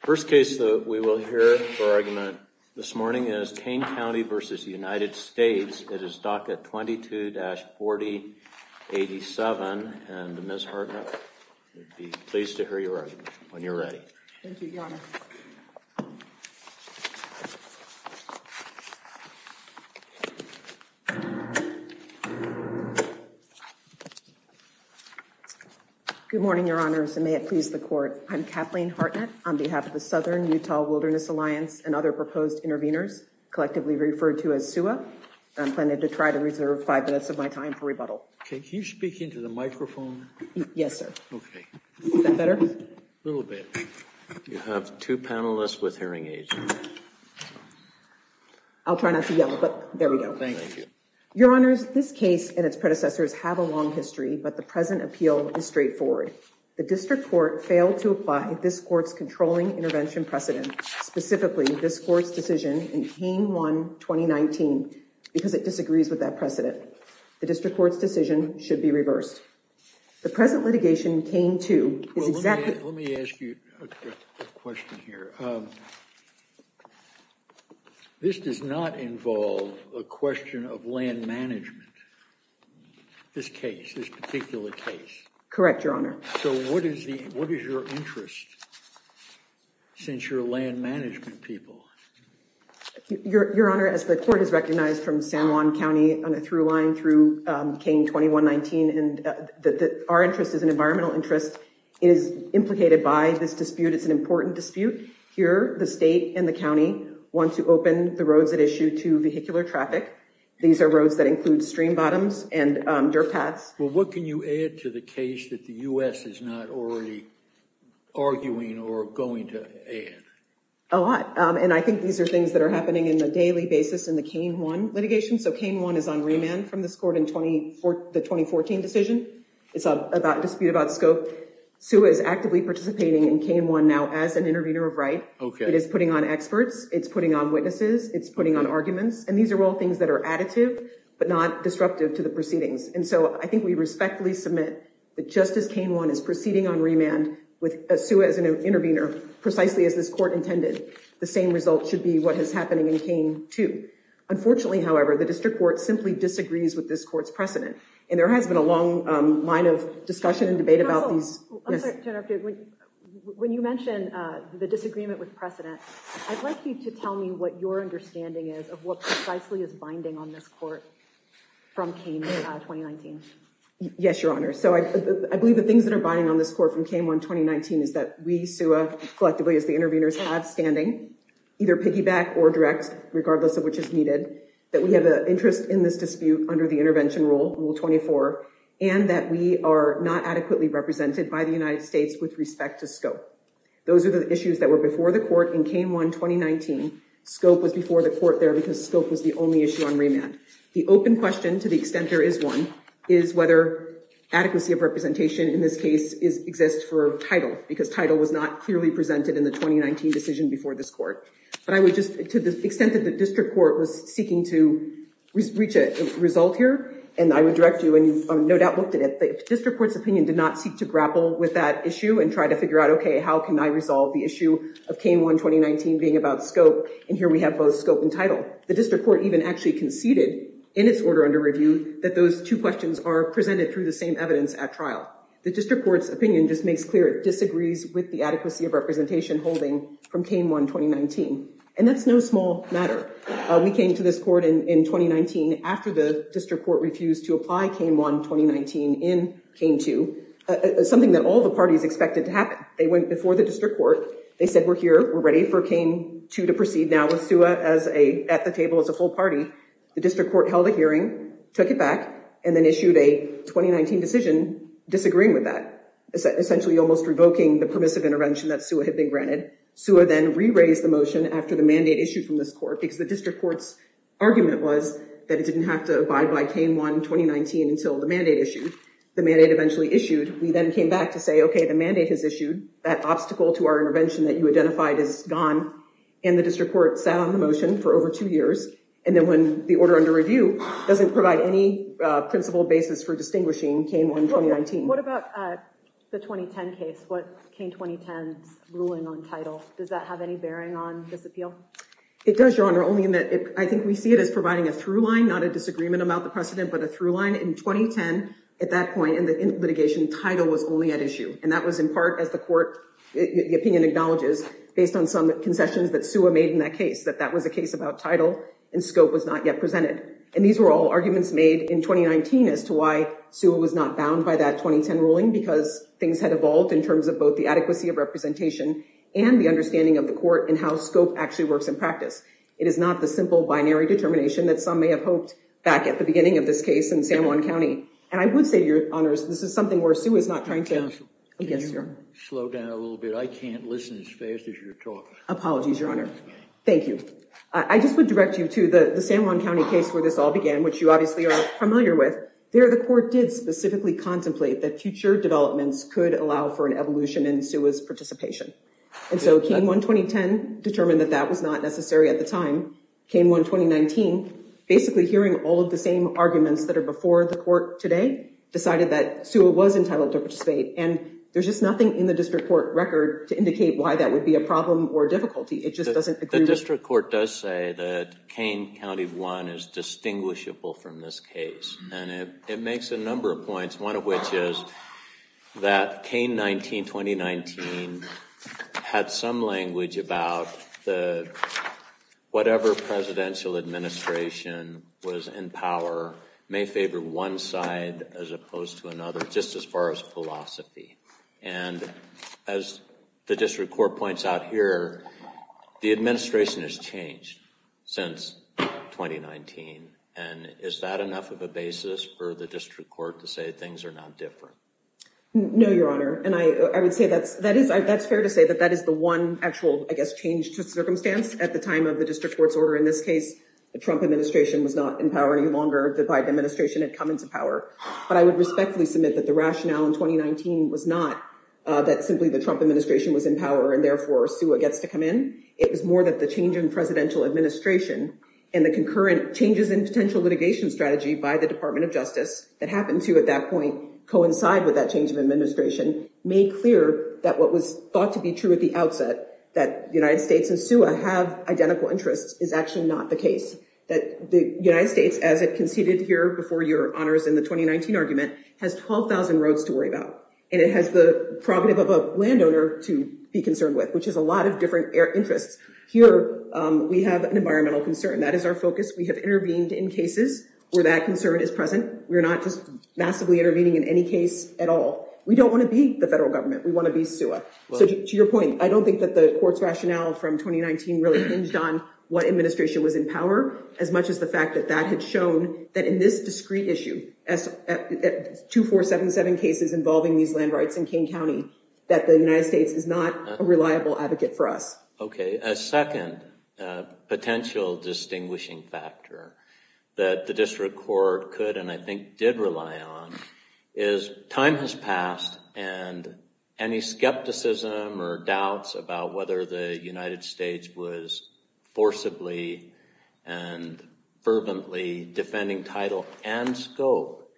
First case that we will hear for argument this morning is Kane County v. United States. It is docket 22-4087, and Ms. Hartnett, we'd be pleased to hear your argument when you're ready. Good morning, Your Honors, and may it please the court. I'm Kathleen Hartnett on behalf of the Southern Utah Wilderness Alliance and other proposed intervenors, collectively referred to as SUWA. I'm planning to try to reserve five minutes of my time for rebuttal. Can you speak into the microphone? Yes, sir. Okay. Is that better? A little bit. You have two panelists with hearing aids. I'll try not to yell, but there we go. Thank you. Your Honors, this case and its predecessors have a long history, but the present appeal is straightforward. The district court failed to apply this court's controlling intervention precedent, specifically this court's decision in Kane 1-2019, because it disagrees with that precedent. The district court's decision should be reversed. The present litigation in Kane 2 is exactly— Let me ask you a question here. This does not involve a question of land management, this case, this particular case. Correct, Your Honor. So what is your interest, since you're land management people? Your Honor, as the court has recognized from San Juan County on a through line through Kane 21-19, our interest is an environmental interest. It is implicated by this dispute. It's an important dispute. Here, the state and the county want to open the roads at issue to vehicular traffic. These are roads that include stream bottoms and dirt paths. Well, what can you add to the case that the U.S. is not already arguing or going to add? A lot. And I think these are things that are happening on a daily basis in the Kane 1 litigation. So Kane 1 is on remand from this court in the 2014 decision. It's a dispute about scope. SUEA is actively participating in Kane 1 now as an intervener of right. It is putting on experts. It's putting on witnesses. It's putting on arguments. And these are all things that are additive but not disruptive to the proceedings. And so I think we respectfully submit that just as Kane 1 is proceeding on remand with SUEA as an intervener, precisely as this court intended, the same result should be what is happening in Kane 2. Unfortunately, however, the district court simply disagrees with this court's precedent. And there has been a long line of discussion and debate about these. Counsel, I'm sorry to interrupt you. When you mention the disagreement with precedent, I'd like you to tell me what your understanding is of what precisely is binding on this court from Kane 1 2019. Yes, Your Honor. So I believe the things that are binding on this court from Kane 1 2019 is that we, SUEA, collectively as the interveners have standing, either piggyback or direct, regardless of which is needed, that we have an interest in this dispute under the intervention rule, Rule 24, and that we are not adequately represented by the United States with respect to scope. Those are the issues that were before the court in Kane 1 2019. Scope was before the court there because scope was the only issue on remand. The open question, to the extent there is one, is whether adequacy of representation in this case exists for title, because title was not clearly presented in the 2019 decision before this court. But I would just, to the extent that the district court was seeking to reach a result here, and I would direct you, and you've no doubt looked at it, the district court's opinion did not seek to grapple with that issue and try to figure out, okay, how can I resolve the issue of Kane 1 2019 being about scope, and here we have both scope and title. But the district court even actually conceded in its order under review that those two questions are presented through the same evidence at trial. The district court's opinion just makes clear it disagrees with the adequacy of representation holding from Kane 1 2019. And that's no small matter. We came to this court in 2019 after the district court refused to apply Kane 1 2019 in Kane 2, something that all the parties expected to happen. They went before the district court, they said we're here, we're ready for Kane 2 to proceed now with SUA at the table as a full party. The district court held a hearing, took it back, and then issued a 2019 decision disagreeing with that, essentially almost revoking the permissive intervention that SUA had been granted. SUA then re-raised the motion after the mandate issued from this court, because the district court's argument was that it didn't have to abide by Kane 1 2019 until the mandate issued. The mandate eventually issued. We then came back to say, okay, the mandate has issued, that obstacle to our intervention that you identified is gone, and the district court sat on the motion for over two years. And then when the order under review doesn't provide any principled basis for distinguishing Kane 1 2019. What about the 2010 case? What's Kane 2010's ruling on title? Does that have any bearing on this appeal? It does, Your Honor, only in that I think we see it as providing a through line, not a disagreement about the precedent, but a through line. In 2010, at that point in the litigation, title was only at issue. And that was in part as the court, the opinion acknowledges, based on some concessions that SUA made in that case, that that was a case about title and scope was not yet presented. And these were all arguments made in 2019 as to why SUA was not bound by that 2010 ruling, because things had evolved in terms of both the adequacy of representation and the understanding of the court and how scope actually works in practice. It is not the simple binary determination that some may have hoped back at the beginning of this case in San Juan County. And I would say, Your Honors, this is something where SUA is not trying to— Counsel, can you slow down a little bit? I can't listen as fast as you're talking. Apologies, Your Honor. Thank you. I just would direct you to the San Juan County case where this all began, which you obviously are familiar with. There, the court did specifically contemplate that future developments could allow for an evolution in SUA's participation. And so K1-2010 determined that that was not necessary at the time. K1-2019, basically hearing all of the same arguments that are before the court today, decided that SUA was entitled to participate. And there's just nothing in the district court record to indicate why that would be a problem or difficulty. It just doesn't— had some language about whatever presidential administration was in power may favor one side as opposed to another, just as far as philosophy. And as the district court points out here, the administration has changed since 2019. And is that enough of a basis for the district court to say things are not different? No, Your Honor. And I would say that's—that is—that's fair to say that that is the one actual, I guess, change to circumstance at the time of the district court's order. In this case, the Trump administration was not in power any longer. The Biden administration had come into power. But I would respectfully submit that the rationale in 2019 was not that simply the Trump administration was in power and therefore SUA gets to come in. It was more that the change in presidential administration and the concurrent changes in potential litigation strategy by the Department of Justice that happened to, at that point, coincide with that change of administration made clear that what was thought to be true at the outset, that the United States and SUA have identical interests, is actually not the case. That the United States, as it conceded here before Your Honors in the 2019 argument, has 12,000 roads to worry about. And it has the prerogative of a landowner to be concerned with, which is a lot of different interests. Here, we have an environmental concern. That is our focus. We have intervened in cases where that concern is present. We're not just massively intervening in any case at all. We don't want to be the federal government. We want to be SUA. So to your point, I don't think that the court's rationale from 2019 really hinged on what administration was in power, as much as the fact that that had shown that in this discrete issue, 2477 cases involving these land rights in Kane County, that the United States is not a reliable advocate for us. Okay. A second potential distinguishing factor that the district court could, and I think did rely on, is time has passed. And any skepticism or doubts about whether the United States was forcibly and fervently defending title and scope,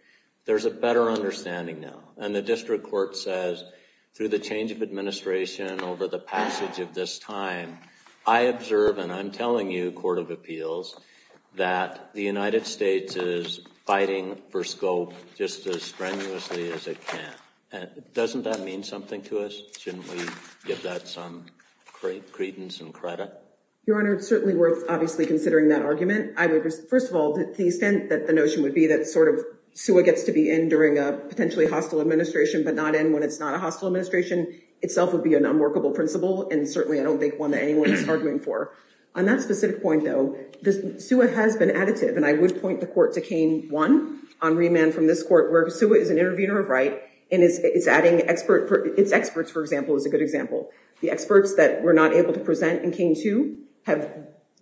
there's a better understanding now. And the district court says, through the change of administration over the passage of this time, I observe, and I'm telling you, Court of Appeals, that the United States is fighting for scope just as strenuously as it can. Doesn't that mean something to us? Shouldn't we give that some credence and credit? Your Honor, it's certainly worth, obviously, considering that argument. First of all, to the extent that the notion would be that sort of SUA gets to be in during a potentially hostile administration, but not in when it's not a hostile administration, itself would be an unworkable principle, and certainly I don't think one that anyone is arguing for. On that specific point, though, SUA has been additive, and I would point the court to Kane 1 on remand from this court, where SUA is an intervener of right, and it's experts, for example, is a good example. The experts that were not able to present in Kane 2 have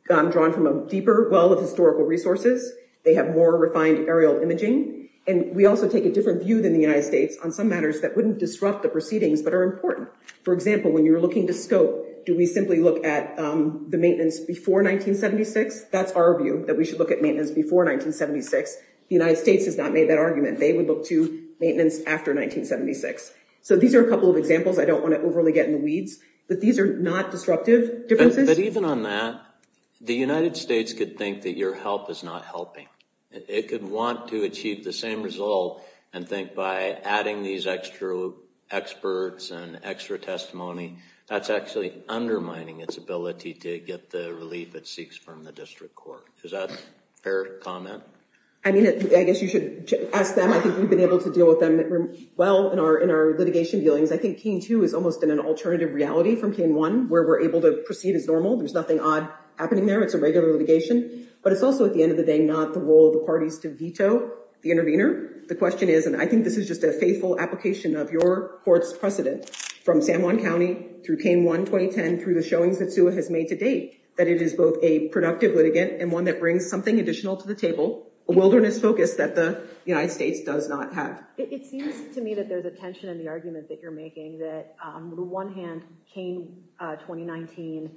gone drawn from a deeper well of historical resources. They have more refined aerial imaging, and we also take a different view than the United States on some matters that wouldn't disrupt the proceedings but are important. For example, when you're looking to scope, do we simply look at the maintenance before 1976? That's our view, that we should look at maintenance before 1976. The United States has not made that argument. They would look to maintenance after 1976. So these are a couple of examples. I don't want to overly get in the weeds, but these are not disruptive differences. But even on that, the United States could think that your help is not helping. It could want to achieve the same result and think by adding these extra experts and extra testimony, that's actually undermining its ability to get the relief it seeks from the district court. Is that a fair comment? I mean, I guess you should ask them. I think we've been able to deal with them well in our litigation dealings. I think Kane 2 has almost been an alternative reality from Kane 1, where we're able to proceed as normal. There's nothing odd happening there. It's a regular litigation. But it's also, at the end of the day, not the role of the parties to veto the intervener. The question is, and I think this is just a faithful application of your court's precedent from San Juan County through Kane 1 2010 through the showings that SUA has made to date, that it is both a productive litigant and one that brings something additional to the table, a wilderness focus that the United States does not have. It seems to me that there's a tension in the argument that you're making, that on the one hand, Kane 2019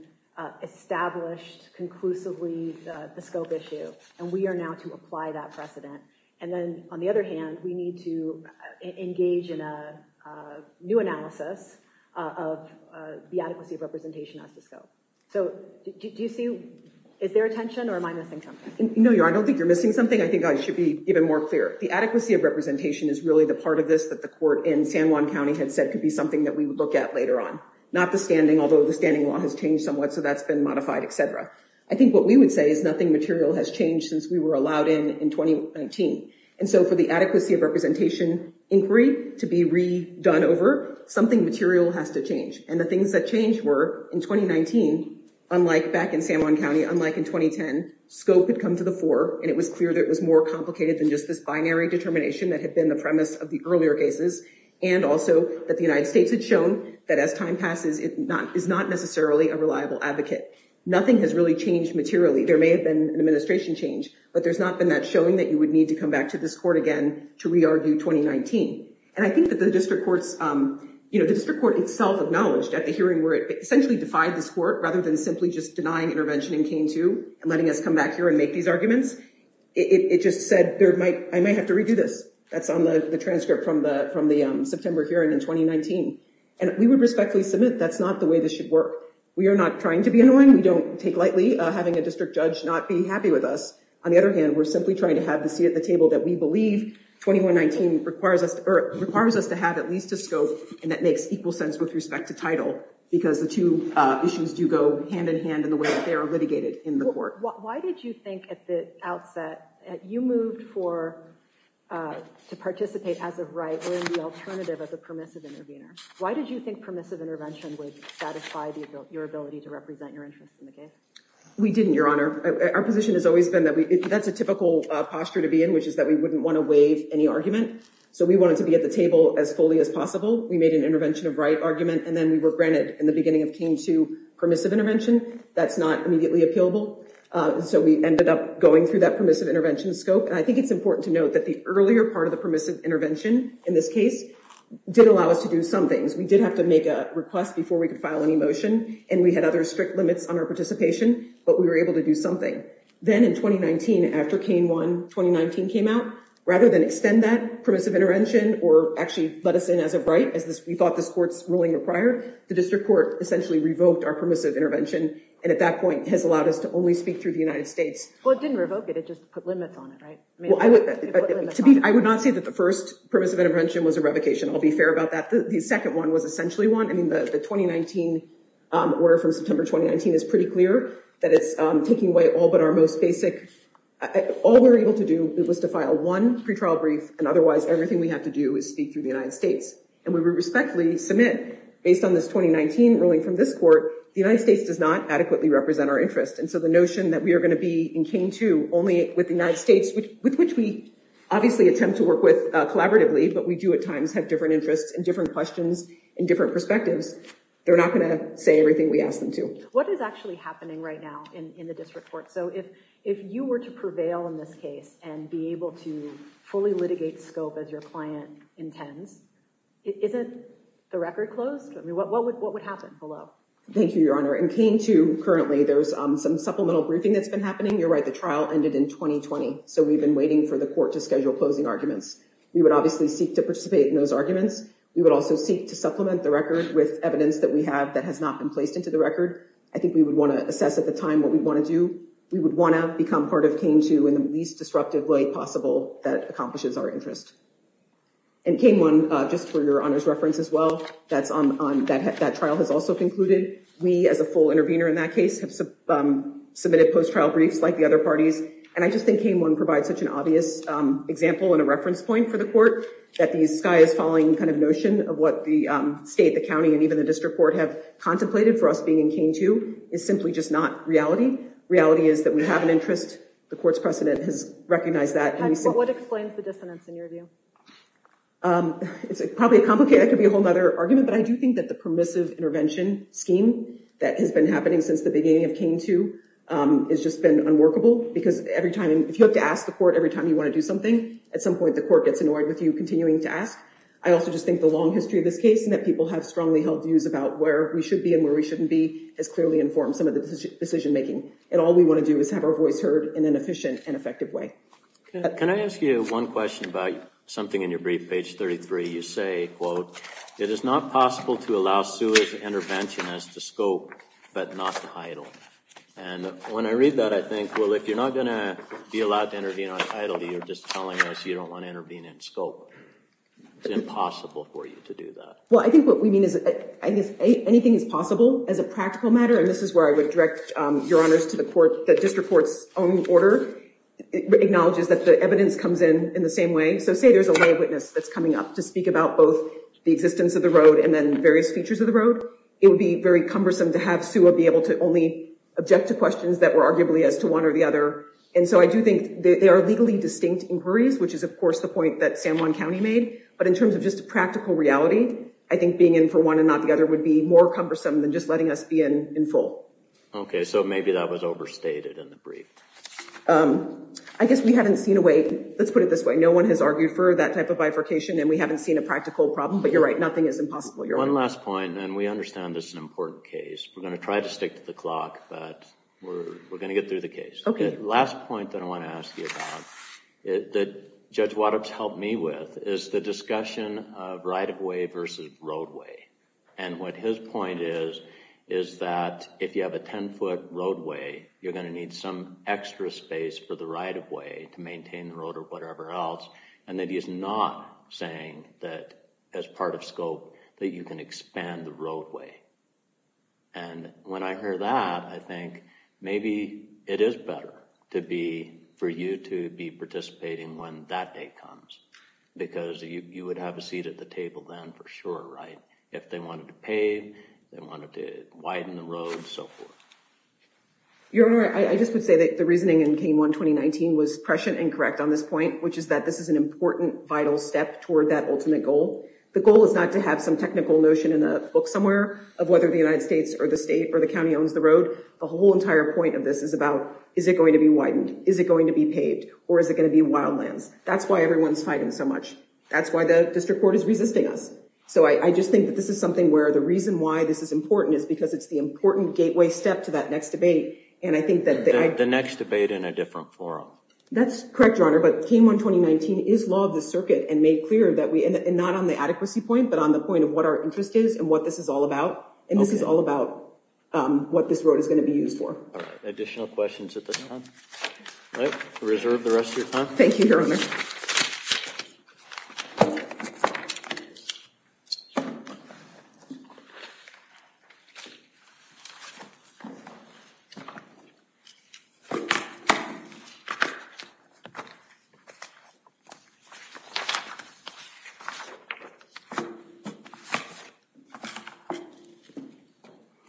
established conclusively the scope issue. And we are now to apply that precedent. And then on the other hand, we need to engage in a new analysis of the adequacy of representation as the scope. So do you see, is there a tension or am I missing something? No, I don't think you're missing something. I think I should be even more clear. The adequacy of representation is really the part of this that the court in San Juan County had said could be something that we would look at later on. Not the standing, although the standing law has changed somewhat. So that's been modified, etc. I think what we would say is nothing material has changed since we were allowed in in 2019. And so for the adequacy of representation inquiry to be redone over, something material has to change. And the things that changed were in 2019, unlike back in San Juan County, unlike in 2010, scope had come to the fore. And it was clear that it was more complicated than just this binary determination that had been the premise of the earlier cases. And also that the United States had shown that as time passes, it is not necessarily a reliable advocate. Nothing has really changed materially. There may have been an administration change, but there's not been that showing that you would need to come back to this court again to re-argue 2019. And I think that the district courts, you know, the district court itself acknowledged at the hearing where it essentially defied this court rather than simply just denying intervention in K-2 and letting us come back here and make these arguments. It just said I might have to redo this. That's on the transcript from the September hearing in 2019. And we would respectfully submit that's not the way this should work. We are not trying to be annoying. We don't take lightly having a district judge not be happy with us. On the other hand, we're simply trying to have the seat at the table that we believe 2119 requires us to have at least a scope and that makes equal sense with respect to title because the two issues do go hand in hand in the way that they are litigated in the court. Why did you think at the outset that you moved to participate as a right or in the alternative as a permissive intervener? Why did you think permissive intervention would satisfy your ability to represent your interest in the case? We didn't, Your Honor. Our position has always been that that's a typical posture to be in, which is that we wouldn't want to waive any argument. So we wanted to be at the table as fully as possible. We made an intervention of right argument and then we were granted in the beginning of K-2 permissive intervention. That's not immediately appealable. So we ended up going through that permissive intervention scope. And I think it's important to note that the earlier part of the permissive intervention in this case did allow us to do some things. We did have to make a request before we could file any motion and we had other strict limits on our participation, but we were able to do something. Then in 2019, after K-1 2019 came out, rather than extend that permissive intervention or actually let us in as a right, as we thought this court's ruling required, the district court essentially revoked our permissive intervention and at that point has allowed us to only speak through the United States. Well, it didn't revoke it. It just put limits on it, right? I would not say that the first permissive intervention was a revocation. I'll be fair about that. The second one was essentially one. I mean, the 2019 order from September 2019 is pretty clear that it's taking away all but our most basic. All we were able to do was to file one pretrial brief and otherwise everything we have to do is speak through the United States. And we respectfully submit, based on this 2019 ruling from this court, the United States does not adequately represent our interest. And so the notion that we are going to be in K-2 only with the United States, with which we obviously attempt to work with collaboratively, but we do at times have different interests and different questions and different perspectives, they're not going to say everything we ask them to. What is actually happening right now in the district court? So if you were to prevail in this case and be able to fully litigate scope as your client intends, isn't the record closed? I mean, what would happen below? Thank you, Your Honor. In K-2, currently, there's some supplemental briefing that's been happening. You're right, the trial ended in 2020. So we've been waiting for the court to schedule closing arguments. We would obviously seek to participate in those arguments. We would also seek to supplement the record with evidence that we have that has not been placed into the record. I think we would want to assess at the time what we want to do. We would want to become part of K-2 in the least disruptive way possible that accomplishes our interest. And K-1, just for Your Honor's reference as well, that trial has also concluded. We, as a full intervener in that case, have submitted post-trial briefs like the other parties. And I just think K-1 provides such an obvious example and a reference point for the court that these sky is falling kind of notion of what the state, the county, and even the district court have contemplated for us being in K-2 is simply just not reality. Reality is that we have an interest. The court's precedent has recognized that. What explains the dissonance in your view? It's probably complicated. It could be a whole other argument. But I do think that the permissive intervention scheme that has been happening since the beginning of K-2 has just been unworkable. Because every time, if you have to ask the court every time you want to do something, at some point the court gets annoyed with you continuing to ask. I also just think the long history of this case and that people have strongly held views about where we should be and where we shouldn't be has clearly informed some of the decision making. And all we want to do is have our voice heard in an efficient and effective way. Can I ask you one question about something in your brief, page 33? You say, quote, it is not possible to allow sewers intervention as the scope, but not the title. And when I read that, I think, well, if you're not going to be allowed to intervene on title, you're just telling us you don't want to intervene in scope. It's impossible for you to do that. Well, I think what we mean is anything is possible as a practical matter. And this is where I would direct your honors to the court. The district court's own order acknowledges that the evidence comes in in the same way. So say there's a lay witness that's coming up to speak about both the existence of the road and then various features of the road. It would be very cumbersome to have sewer be able to only object to questions that were arguably as to one or the other. And so I do think they are legally distinct inquiries, which is, of course, the point that San Juan County made. But in terms of just a practical reality, I think being in for one and not the other would be more cumbersome than just letting us be in full. OK, so maybe that was overstated in the brief. I guess we haven't seen a way, let's put it this way, no one has argued for that type of bifurcation and we haven't seen a practical problem. But you're right, nothing is impossible. One last point, and we understand this is an important case. We're going to try to stick to the clock, but we're going to get through the case. The last point that I want to ask you about, that Judge Waddup's helped me with, is the discussion of right-of-way versus roadway. And what his point is, is that if you have a 10-foot roadway, you're going to need some extra space for the right-of-way to maintain the road or whatever else. And that he is not saying that, as part of scope, that you can expand the roadway. And when I hear that, I think maybe it is better for you to be participating when that day comes. Because you would have a seat at the table then for sure, right? If they wanted to pave, they wanted to widen the road, so forth. Your Honor, I just would say that the reasoning in K-1 2019 was prescient and correct on this point, which is that this is an important, vital step toward that ultimate goal. The goal is not to have some technical notion in a book somewhere of whether the United States or the state or the county owns the road. The whole entire point of this is about, is it going to be widened? Is it going to be paved? Or is it going to be wildlands? That's why everyone's fighting so much. That's why the district court is resisting us. So I just think that this is something where the reason why this is important is because it's the important gateway step to that next debate. The next debate in a different forum. That's correct, Your Honor. But K-1 2019 is law of the circuit and made clear that we, and not on the adequacy point, but on the point of what our interest is and what this is all about. And this is all about what this road is going to be used for. Additional questions at this time? All right. Reserve the rest of your time. Thank you, Your Honor.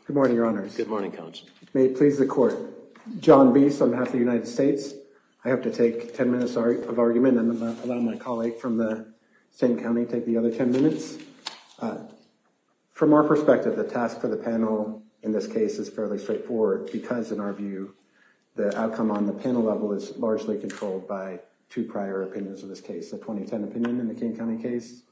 Good morning, Your Honors. Good morning, Counsel. Thank you for your arguments. From our perspective, the task for the panel in this case is fairly straightforward, because in our view, the outcome on the panel level is largely controlled by two prior opinions in this case, a 2010 opinion in the King County case.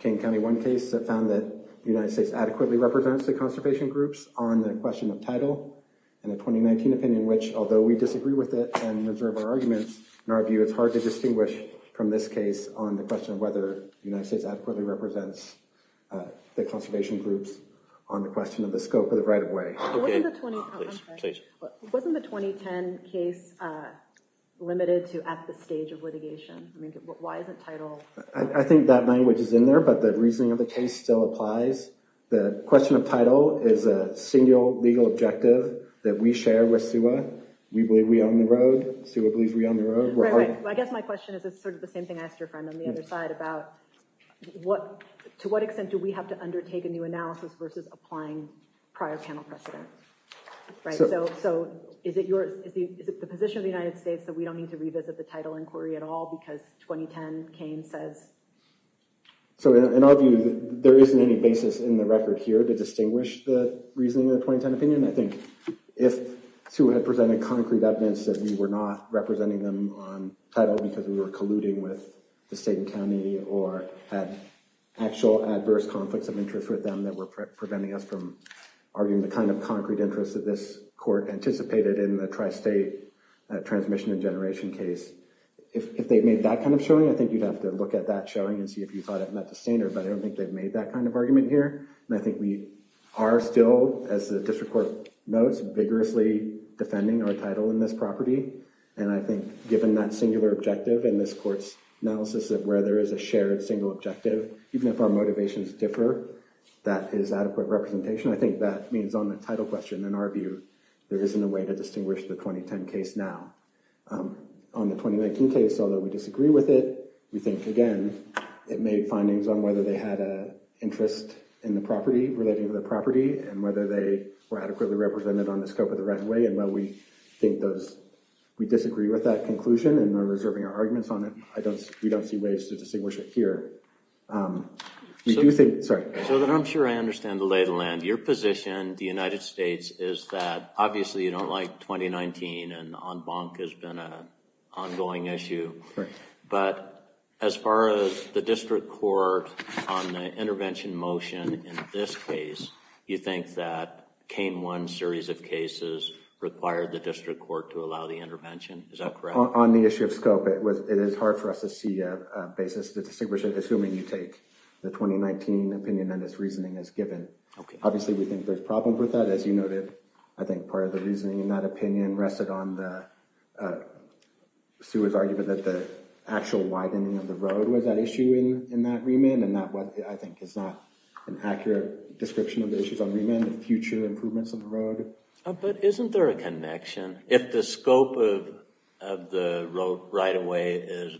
King County, one case that found that the United States adequately represents the conservation groups on the question of title, and a 2019 opinion in which, although we disagree with it and reserve our arguments, in our view, it's hard to distinguish from this case on the question of whether the United States adequately represents the conservation groups on the question of the scope of the right of way. Wasn't the 2010 case limited to at the stage of litigation? Why isn't title? I think that language is in there, but the reasoning of the case still applies. The question of title is a single legal objective that we share with SUA. We believe we own the road. SUA believes we own the road. I guess my question is sort of the same thing I asked your friend on the other side about to what extent do we have to undertake a new analysis versus applying prior panel precedent? So, is it the position of the United States that we don't need to revisit the title inquiry at all because 2010, Kane says? So, in our view, there isn't any basis in the record here to distinguish the reasoning of the 2010 opinion. I think if SUA had presented concrete evidence that we were not representing them on title because we were colluding with the state and county or had actual adverse conflicts of interest with them that were preventing us from arguing the kind of concrete interest that this court anticipated in the tri-state transmission and generation case, if they made that kind of showing, I think you'd have to look at that showing and see if you thought it met the standard, but I don't think they've made that kind of argument here. And I think we are still, as the district court notes, vigorously defending our title in this property. And I think given that singular objective in this court's analysis of where there is a shared single objective, even if our motivations differ, that is adequate representation. I think that means on the title question, in our view, there isn't a way to distinguish the 2010 case now. On the 2019 case, although we disagree with it, we think, again, it made findings on whether they had an interest in the property, relating to the property, and whether they were adequately represented on the scope of the runway. And while we disagree with that conclusion and are reserving our arguments on it, we don't see ways to distinguish it here. So that I'm sure I understand the lay of the land. Your position, the United States, is that obviously you don't like 2019, and en banc has been an ongoing issue. But as far as the district court on the intervention motion in this case, you think that Kane 1 series of cases required the district court to allow the intervention? Is that correct? On the issue of scope, it is hard for us to see a basis to distinguish it, assuming you take the 2019 opinion and its reasoning as given. Obviously, we think there's problems with that. As you noted, I think part of the reasoning in that opinion rested on Sue's argument that the actual widening of the road was an issue in that remand. And that, I think, is not an accurate description of the issues on remand, the future improvements on the road. But isn't there a connection? If the scope of the road right-of-way is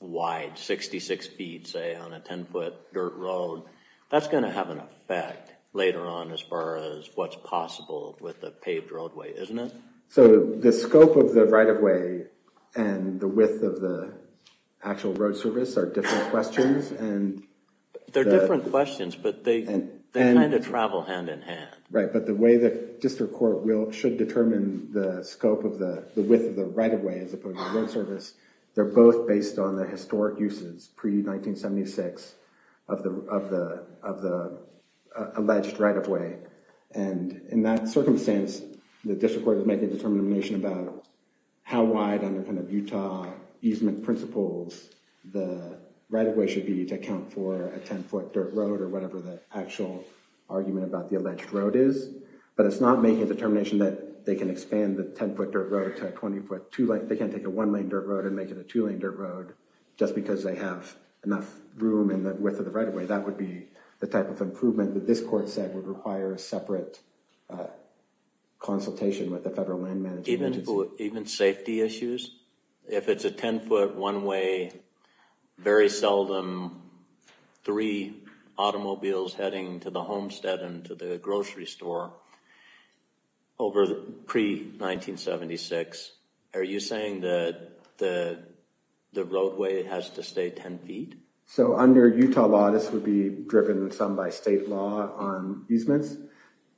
wide, 66 feet, say, on a 10-foot dirt road, that's going to have an effect later on as far as what's possible with a paved roadway, isn't it? So the scope of the right-of-way and the width of the actual road service are different questions. They're different questions, but they kind of travel hand-in-hand. Right, but the way the district court should determine the scope of the width of the right-of-way as opposed to the road service, they're both based on the historic uses pre-1976 of the alleged right-of-way. And in that circumstance, the district court is making a determination about how wide, under kind of Utah easement principles, the right-of-way should be to account for a 10-foot dirt road or whatever the actual argument about the alleged road is. But it's not making a determination that they can expand the 10-foot dirt road to a 20-foot two-lane. They can't take a one-lane dirt road and make it a two-lane dirt road just because they have enough room and the width of the right-of-way. That would be the type of improvement that this court said would require a separate consultation with the federal land management agency. Even safety issues? If it's a 10-foot one-way, very seldom three automobiles heading to the homestead and to the grocery store over pre-1976, are you saying that the roadway has to stay 10 feet? So under Utah law, this would be driven some by state law on easements.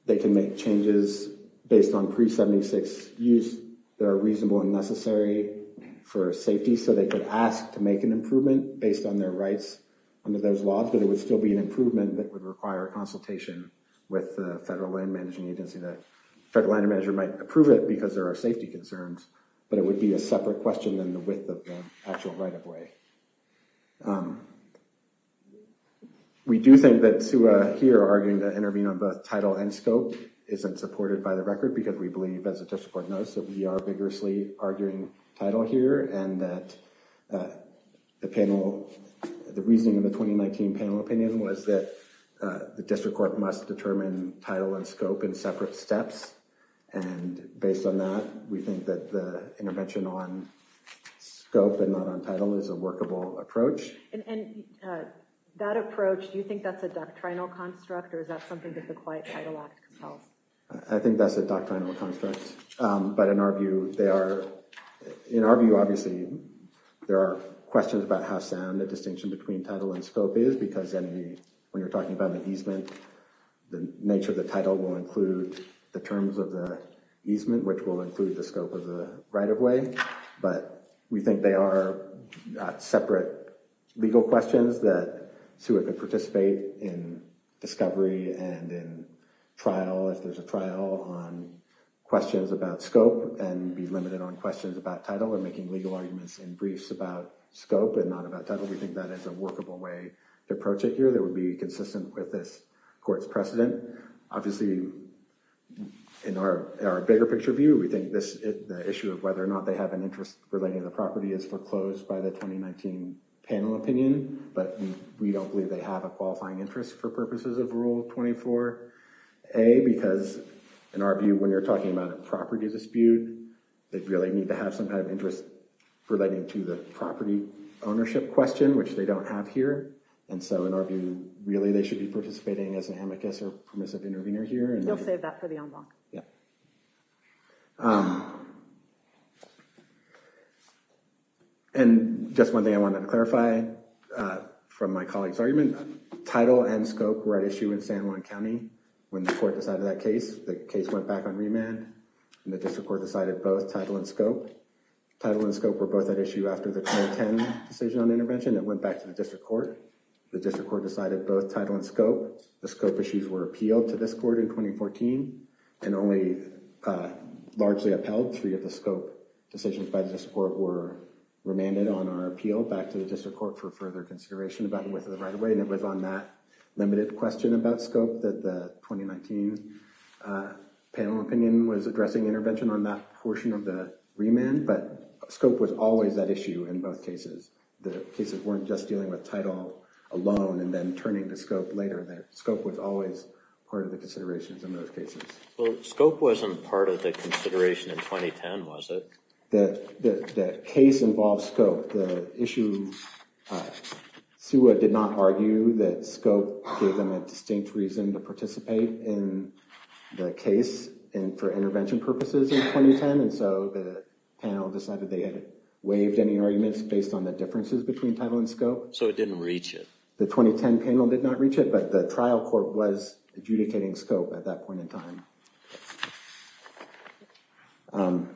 They can make changes based on pre-1976 use that are reasonable and necessary for safety. So they could ask to make an improvement based on their rights under those laws, but it would still be an improvement that would require a consultation with the federal land management agency. The federal land manager might approve it because there are safety concerns, but it would be a separate question than the width of the actual right-of-way. We do think that here arguing to intervene on both title and scope isn't supported by the record because we believe, as the district court knows, that we are vigorously arguing title here and that the panel, the reasoning in the 2019 panel opinion was that the district court must determine title and scope in separate steps. And based on that, we think that the intervention on scope and not on title is a workable approach. And that approach, do you think that's a doctrinal construct or is that something that the Quiet Title Act compels? I think that's a doctrinal construct. But in our view, they are, in our view, obviously, there are questions about how sound the distinction between title and scope is because when you're talking about the easement, the nature of the title will include the terms of the easement, which will include the scope of the right-of-way. But we think they are separate legal questions that SUA could participate in discovery and in trial if there's a trial on questions about scope and be limited on questions about title or making legal arguments in briefs about scope and not about title. We think that is a workable way to approach it here that would be consistent with this court's precedent. Obviously, in our bigger picture view, we think the issue of whether or not they have an interest relating to the property is foreclosed by the 2019 panel opinion, but we don't believe they have a qualifying interest for purposes of Rule 24a because, in our view, when you're talking about a property dispute, they really need to have some kind of interest relating to the property ownership question, which they don't have here. And so in our view, really, they should be participating as an amicus or permissive intervener here. You'll save that for the en bloc. Yeah. And just one thing I wanted to clarify from my colleague's argument, title and scope were at issue in San Juan County. When the court decided that case, the case went back on remand and the district court decided both title and scope. Title and scope were both at issue after the 2010 decision on intervention. It went back to the district court. The district court decided both title and scope. The scope issues were appealed to this court in 2014 and only largely upheld. Three of the scope decisions by the district court were remanded on our appeal back to the district court for further consideration about the width of the right of way, and it was on that limited question about scope that the 2019 panel opinion was addressing intervention on that portion of the remand, but scope was always that issue in both cases. The cases weren't just dealing with title alone and then turning to scope later. Scope was always part of the considerations in those cases. Well, scope wasn't part of the consideration in 2010, was it? The case involved scope. The issue, SUA did not argue that scope gave them a distinct reason to participate in the case for intervention purposes in 2010, and so the panel decided they had waived any arguments based on the differences between title and scope. So it didn't reach it. The 2010 panel did not reach it, but the trial court was adjudicating scope at that point in time. And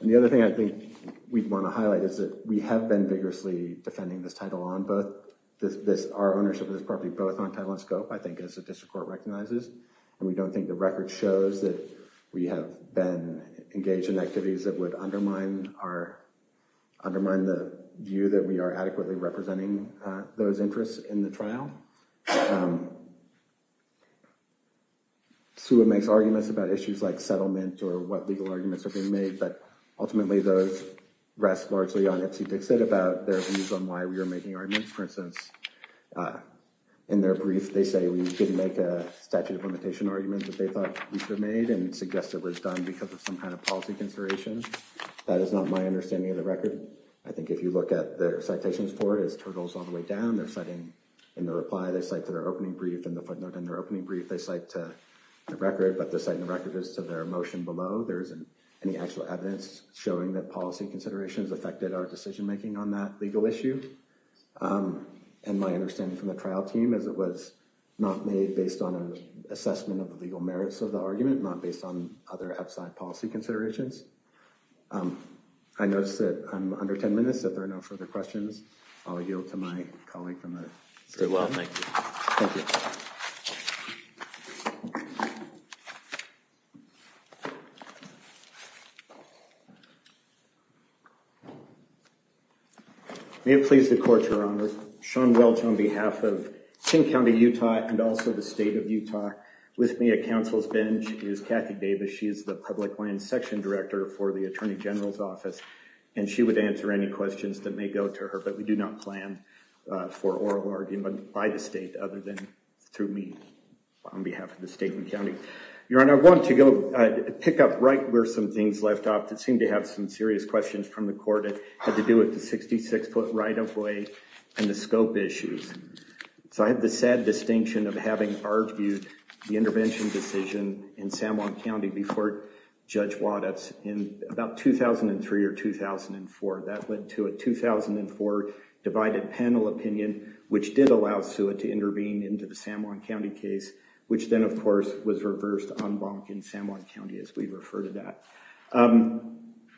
the other thing I think we'd want to highlight is that we have been vigorously defending this title on both this our ownership of this property both on title and scope I think as the district court recognizes, and we don't think the record shows that we have been engaged in activities that would undermine our undermine the view that we are adequately representing those interests in the trial. So, SUA makes arguments about issues like settlement or what legal arguments are being made, but ultimately those rest largely on FC Dixit about their views on why we are making arguments. For instance, in their brief they say we didn't make a statute of limitation argument that they thought we should have made and suggest it was done because of some kind of policy consideration. That is not my understanding of the record. I think if you look at their citations for his turtles all the way down they're setting in the reply they say to their opening brief and the footnote in their opening brief they cite to the record but the second record is to their emotion below there isn't any actual evidence, showing that policy considerations affected our decision making on that legal issue. And my understanding from the trial team as it was not made based on an assessment of the legal merits of the argument not based on other outside policy considerations. I noticed that I'm under 10 minutes that there are no further questions. I'll yield to my colleague from the well thank you. May it please the court, your honor, Sean Welch on behalf of King County, Utah, and also the state of Utah with me at counsel's bench is Kathy Davis, she is the public land section director for the Attorney General's office, and she would answer any questions that may go to her but we do not plan for oral argument by the state other than that. Through me, on behalf of the state and county. Your Honor, I want to go pick up right where some things left off that seem to have some serious questions from the court and had to do with the 66 foot right of way, and the scope issues. So I have the sad distinction of having argued the intervention decision in San Juan County before. Judge waters in about 2003 or 2004 that went to a 2004 divided panel opinion, which did allow Sue it to intervene into the San Juan County case, which then of course was reversed on bonk in San Juan County as we refer to that.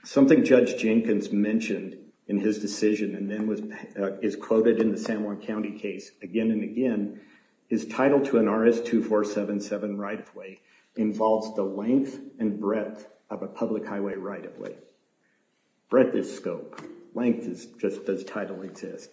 Something Judge Jenkins mentioned in his decision and then was is quoted in the San Juan County case again and again is title to an RS 2477 right of way involves the length and breadth of a public highway right of way. Breadth is scope length is just does title exist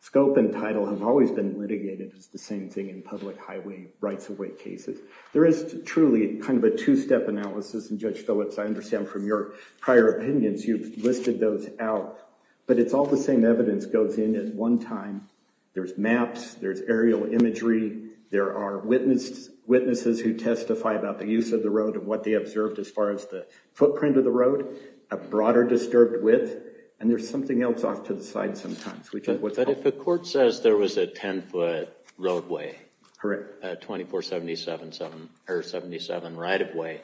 scope and title have always been litigated as the same thing in public highway rights of way cases, there is truly kind of a two step analysis and Judge Phillips I understand from your prior opinions you've listed those out, but it's all the same evidence goes in at one time. There's maps, there's aerial imagery, there are witnesses who testify about the use of the road and what they observed as far as the footprint of the road, a broader disturbed width, and there's something else off to the side sometimes. But if the court says there was a 10 foot roadway, correct, 2477 or 77 right of way,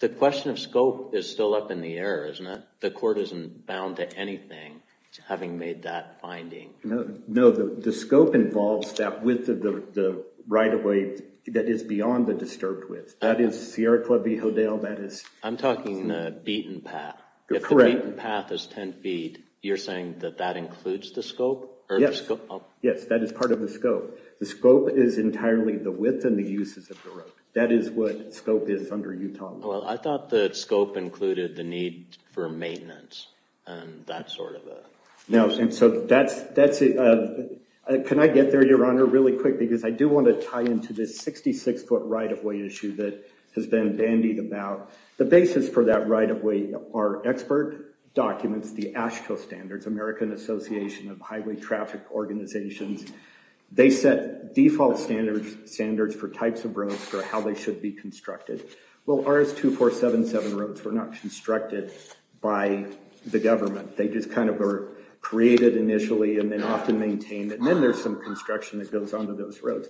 the question of scope is still up in the air, isn't it? The court isn't bound to anything having made that finding. No, the scope involves that width of the right of way, that is beyond the disturbed width, that is Sierra Club v. Hodel, that is... I'm talking the beaten path. Correct. If the beaten path is 10 feet, you're saying that that includes the scope? Yes, that is part of the scope. The scope is entirely the width and the uses of the road. That is what scope is under Utah law. Well, I thought that scope included the need for maintenance and that sort of a... No, and so that's... Can I get there, Your Honor, really quick because I do want to tie into this 66 foot right of way issue that has been bandied about. The basis for that right of way are expert documents, the AASHTO standards, American Association of Highway Traffic Organizations. They set default standards for types of roads for how they should be constructed. Well, ours 2477 roads were not constructed by the government. They just kind of were created initially and then often maintained, and then there's some construction that goes onto those roads.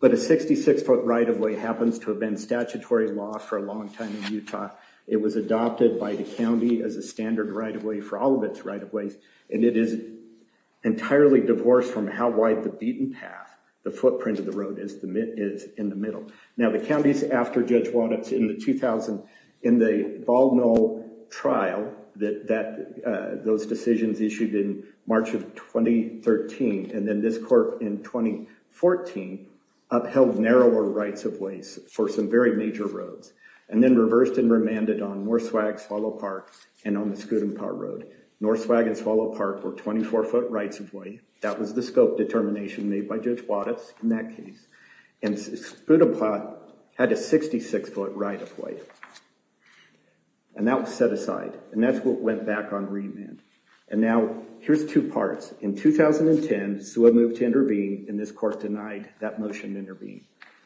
But a 66 foot right of way happens to have been statutory law for a long time in Utah. It was adopted by the county as a standard right of way for all of its right of ways, and it is entirely divorced from how wide the beaten path, the footprint of the road is in the middle. Now, the counties after Judge Wattups in the 2000, in the Bald Knoll trial, those decisions issued in March of 2013 and then this court in 2014 upheld narrower rights of ways for some very major roads, and then reversed and remanded on Norswag, Swallow Park, and on the Scudamore Road. Norswag and Swallow Park were 24 foot rights of way. That was the scope determination made by Judge Wattups in that case, and Scudamore had a 66 foot right of way, and that was set aside, and that's what went back on remand. And now, here's two parts. In 2010, SUA moved to intervene, and this court denied that motion to intervene.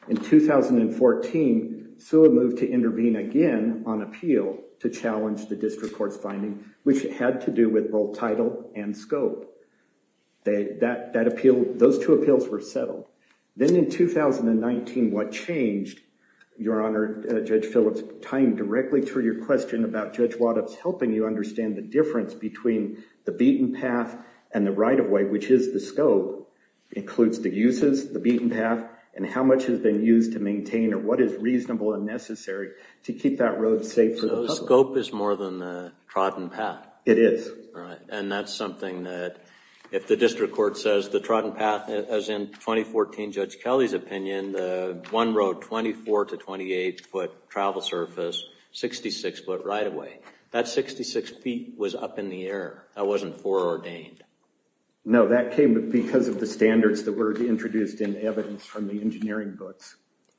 In 2014, SUA moved to intervene again on appeal to challenge the district court's finding, which had to do with both title and scope. Those two appeals were settled. Then in 2019, what changed, Your Honor, Judge Phillips, tying directly to your question about Judge Wattups helping you understand the difference between the beaten path and the right of way, which is the scope, includes the uses, the beaten path, and how much has been used to maintain it, what is reasonable and necessary to keep that road safe for the public. So the scope is more than the trodden path. It is. And that's something that if the district court says the trodden path, as in 2014 Judge Kelly's opinion, the one road 24 to 28 foot travel surface, 66 foot right of way. That 66 feet was up in the air. That wasn't foreordained. No, that came because of the standards that were introduced in the evidence from the engineering books.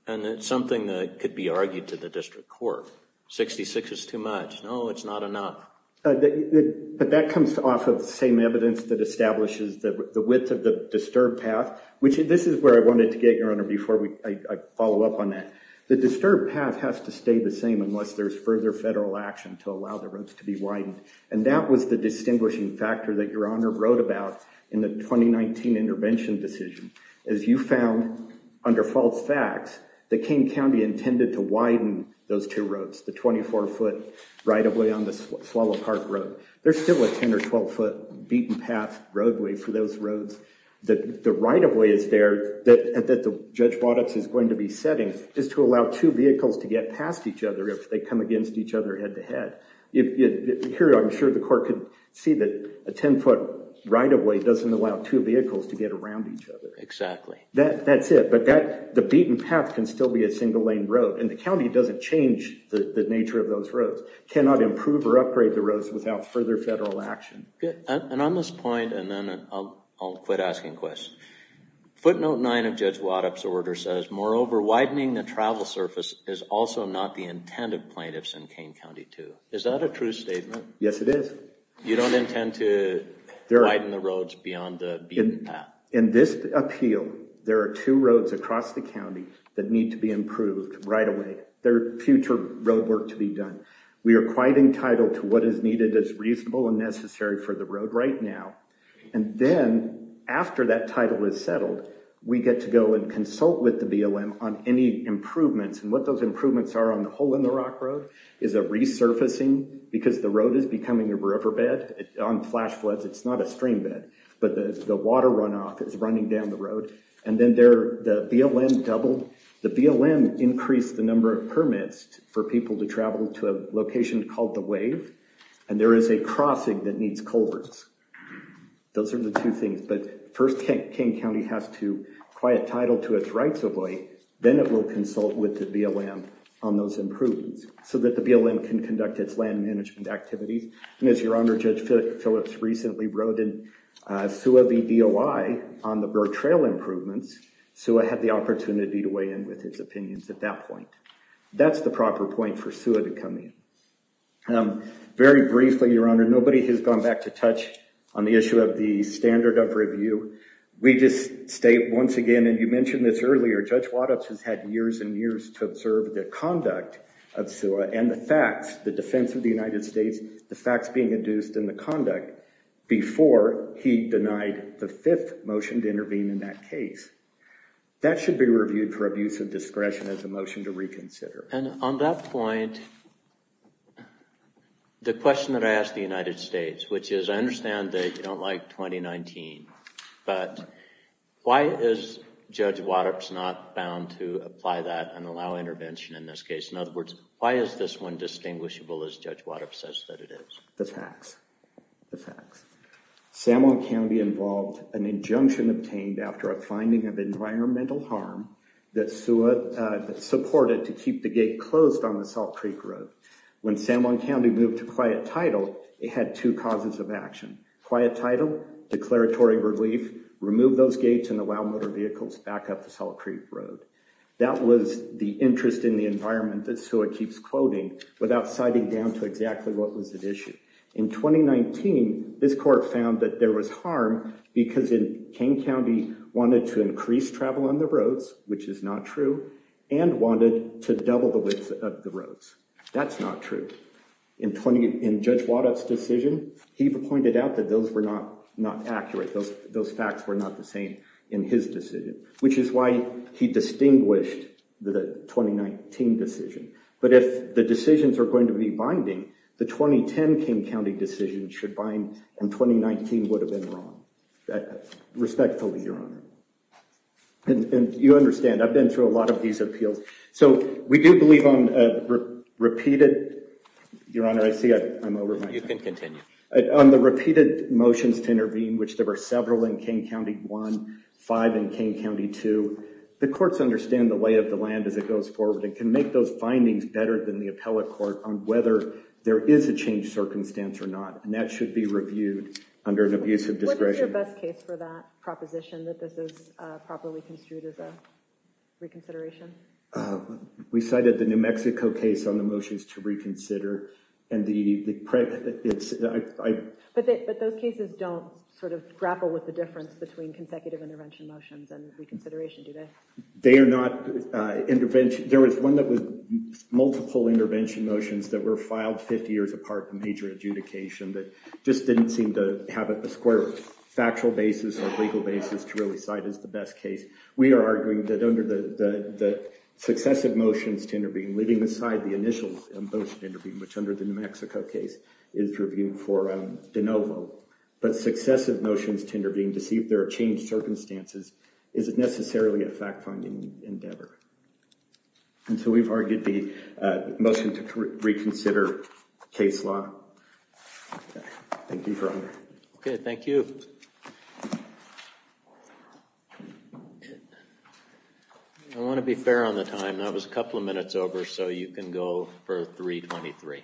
And it's something that could be argued to the district court. 66 is too much. No, it's not enough. But that comes off of the same evidence that establishes the width of the disturbed path, which this is where I wanted to get, Your Honor, before I follow up on that. The disturbed path has to stay the same unless there's further federal action to allow the roads to be widened. And that was the distinguishing factor that Your Honor wrote about in the 2019 intervention decision. As you found under false facts, the King County intended to widen those two roads, the 24 foot right of way on the Swallow Park Road. There's still a 10 or 12 foot beaten path roadway for those roads. The right of way is there that Judge Waddox is going to be setting is to allow two vehicles to get past each other if they come against each other head to head. Here, I'm sure the court could see that a 10 foot right of way doesn't allow two vehicles to get around each other. Exactly. That's it. But the beaten path can still be a single lane road. And the county doesn't change the nature of those roads, cannot improve or upgrade the roads without further federal action. And on this point, and then I'll quit asking questions. Footnote 9 of Judge Waddox's order says, moreover, widening the travel surface is also not the intent of plaintiffs in King County, too. Is that a true statement? Yes, it is. You don't intend to widen the roads beyond the beaten path? In this appeal, there are two roads across the county that need to be improved right away. There are future road work to be done. We are quite entitled to what is needed as reasonable and necessary for the road right now. And then, after that title is settled, we get to go and consult with the BLM on any improvements. And what those improvements are on the Hole in the Rock Road is a resurfacing because the road is becoming a riverbed. On flash floods, it's not a streambed. But the water runoff is running down the road. And then the BLM doubled. The BLM increased the number of permits for people to travel to a location called The Wave. And there is a crossing that needs culverts. Those are the two things. But first, King County has to acquire a title to its rights of way. Then it will consult with the BLM on those improvements so that the BLM can conduct its land management activities. And as Your Honor, Judge Phillips recently wrote in SUA v. DOI on the road trail improvements, SUA had the opportunity to weigh in with its opinions at that point. That's the proper point for SUA to come in. Very briefly, Your Honor, nobody has gone back to touch on the issue of the standard of review. We just state once again, and you mentioned this earlier, Judge Waddups has had years and years to observe the conduct of SUA and the facts, the defense of the United States, the facts being induced, and the conduct before he denied the fifth motion to intervene in that case. That should be reviewed for abuse of discretion as a motion to reconsider. And on that point, the question that I ask the United States, which is I understand that you don't like 2019, but why is Judge Waddups not bound to apply that and allow intervention in this case? In other words, why is this one distinguishable as Judge Waddups says that it is? The facts. The facts. San Juan County involved an injunction obtained after a finding of environmental harm that SUA supported to keep the gate closed on the Salt Creek Road. When San Juan County moved to quiet title, it had two causes of action. Quiet title, declaratory relief, remove those gates, and allow motor vehicles back up the Salt Creek Road. That was the interest in the environment that SUA keeps quoting without citing down to exactly what was at issue. In 2019, this court found that there was harm because King County wanted to increase travel on the roads, which is not true, and wanted to double the width of the roads. That's not true. In Judge Waddups' decision, he pointed out that those were not accurate. Those facts were not the same in his decision, which is why he distinguished the 2019 decision. But if the decisions are going to be binding, the 2010 King County decision should bind, and 2019 would have been wrong. Respectfully, Your Honor. And you understand, I've been through a lot of these appeals. So we do believe on repeated—Your Honor, I see I'm over my time. You can continue. On the repeated motions to intervene, which there were several in King County 1, five in King County 2, the courts understand the lay of the land as it goes forward and can make those findings better than the appellate court on whether there is a changed circumstance or not, and that should be reviewed under an abuse of discretion. What is your best case for that proposition, that this is properly construed as a reconsideration? We cited the New Mexico case on the motions to reconsider. But those cases don't sort of grapple with the difference between consecutive intervention motions and reconsideration, do they? They are not intervention— There was one that was multiple intervention motions that were filed 50 years apart from major adjudication that just didn't seem to have a square factual basis or legal basis to really cite as the best case. We are arguing that under the successive motions to intervene, leaving aside the initial motion to intervene, which under the New Mexico case is reviewed for de novo, but successive motions to intervene to see if there are changed circumstances isn't necessarily a fact-finding endeavor. And so we've argued the motion to reconsider case law. Thank you, Your Honor. Okay, thank you. I want to be fair on the time. That was a couple of minutes over, so you can go for 3.23.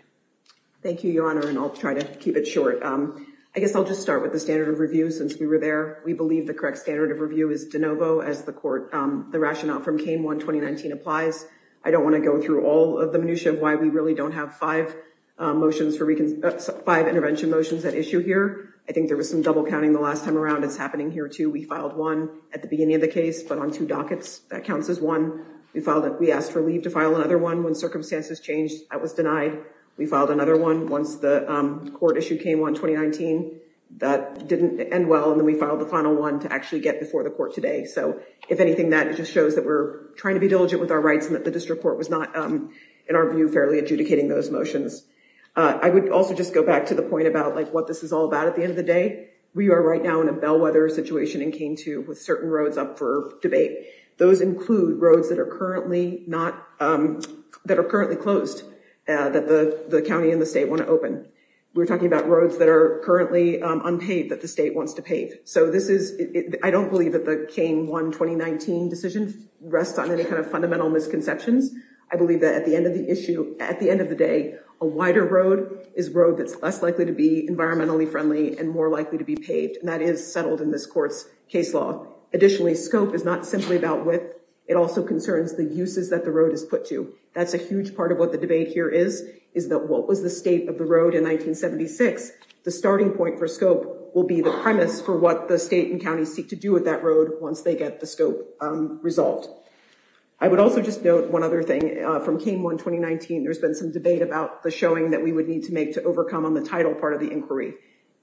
Thank you, Your Honor, and I'll try to keep it short. I guess I'll just start with the standard of review. Since we were there, we believe the correct standard of review is de novo as the court—the rationale from K-1 2019 applies. I don't want to go through all of the minutiae of why we really don't have five motions for—five intervention motions at issue here. I think there was some double-counting the last time around. It's happening here, too. We filed one at the beginning of the case, but on two dockets. That counts as one. We filed—we asked for leave to file another one when circumstances changed. That was denied. We filed another one once the court issued K-1 2019. That didn't end well, and then we filed the final one to actually get before the court today. If anything, that just shows that we're trying to be diligent with our rights and that the district court was not, in our view, fairly adjudicating those motions. I would also just go back to the point about what this is all about at the end of the day. We are right now in a bellwether situation and came to with certain roads up for debate. Those include roads that are currently closed that the county and the state want to open. We're talking about roads that are currently unpaved that the state wants to pave. So this is—I don't believe that the K-1 2019 decision rests on any kind of fundamental misconceptions. I believe that at the end of the issue, at the end of the day, a wider road is a road that's less likely to be environmentally friendly and more likely to be paved, and that is settled in this court's case law. Additionally, scope is not simply about width. It also concerns the uses that the road is put to. That's a huge part of what the debate here is, is that what was the state of the road in 1976? The starting point for scope will be the premise for what the state and county seek to do with that road once they get the scope resolved. I would also just note one other thing. From K-1 2019, there's been some debate about the showing that we would need to make to overcome on the title part of the inquiry.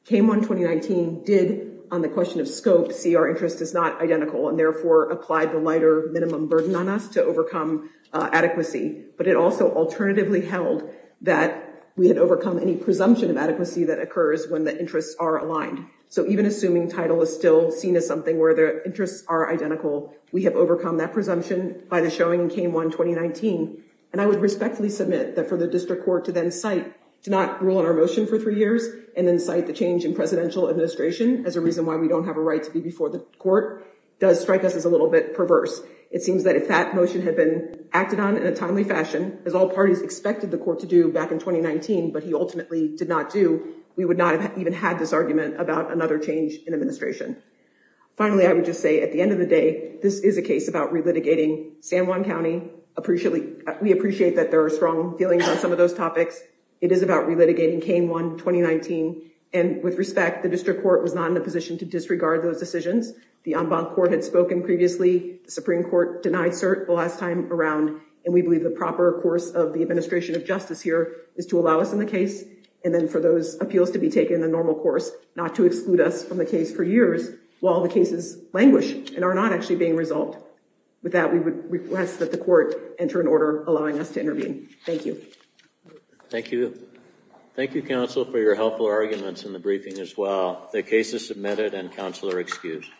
K-1 2019 did, on the question of scope, see our interest is not identical and therefore applied the lighter minimum burden on us to overcome adequacy. But it also alternatively held that we had overcome any presumption of adequacy that occurs when the interests are aligned. So even assuming title is still seen as something where the interests are identical, we have overcome that presumption by the showing in K-1 2019. And I would respectfully submit that for the district court to then cite, to not rule on our motion for three years and then cite the change in presidential administration as a reason why we don't have a right to be before the court does strike us as a little bit perverse. It seems that if that motion had been acted on in a timely fashion, as all parties expected the court to do back in 2019, but he ultimately did not do, we would not have even had this argument about another change in administration. Finally, I would just say at the end of the day, this is a case about relitigating San Juan County. We appreciate that there are strong feelings on some of those topics. It is about relitigating K-1 2019. And with respect, the district court was not in a position to disregard those decisions. The en banc court had spoken previously. The Supreme Court denied cert the last time around. And we believe the proper course of the administration of justice here is to allow us in the case. And then for those appeals to be taken in the normal course, not to exclude us from the case for years while the cases languish and are not actually being resolved. With that, we would request that the court enter an order allowing us to intervene. Thank you. Thank you. Thank you, counsel, for your helpful arguments in the briefing as well. The case is submitted and counsel are excused.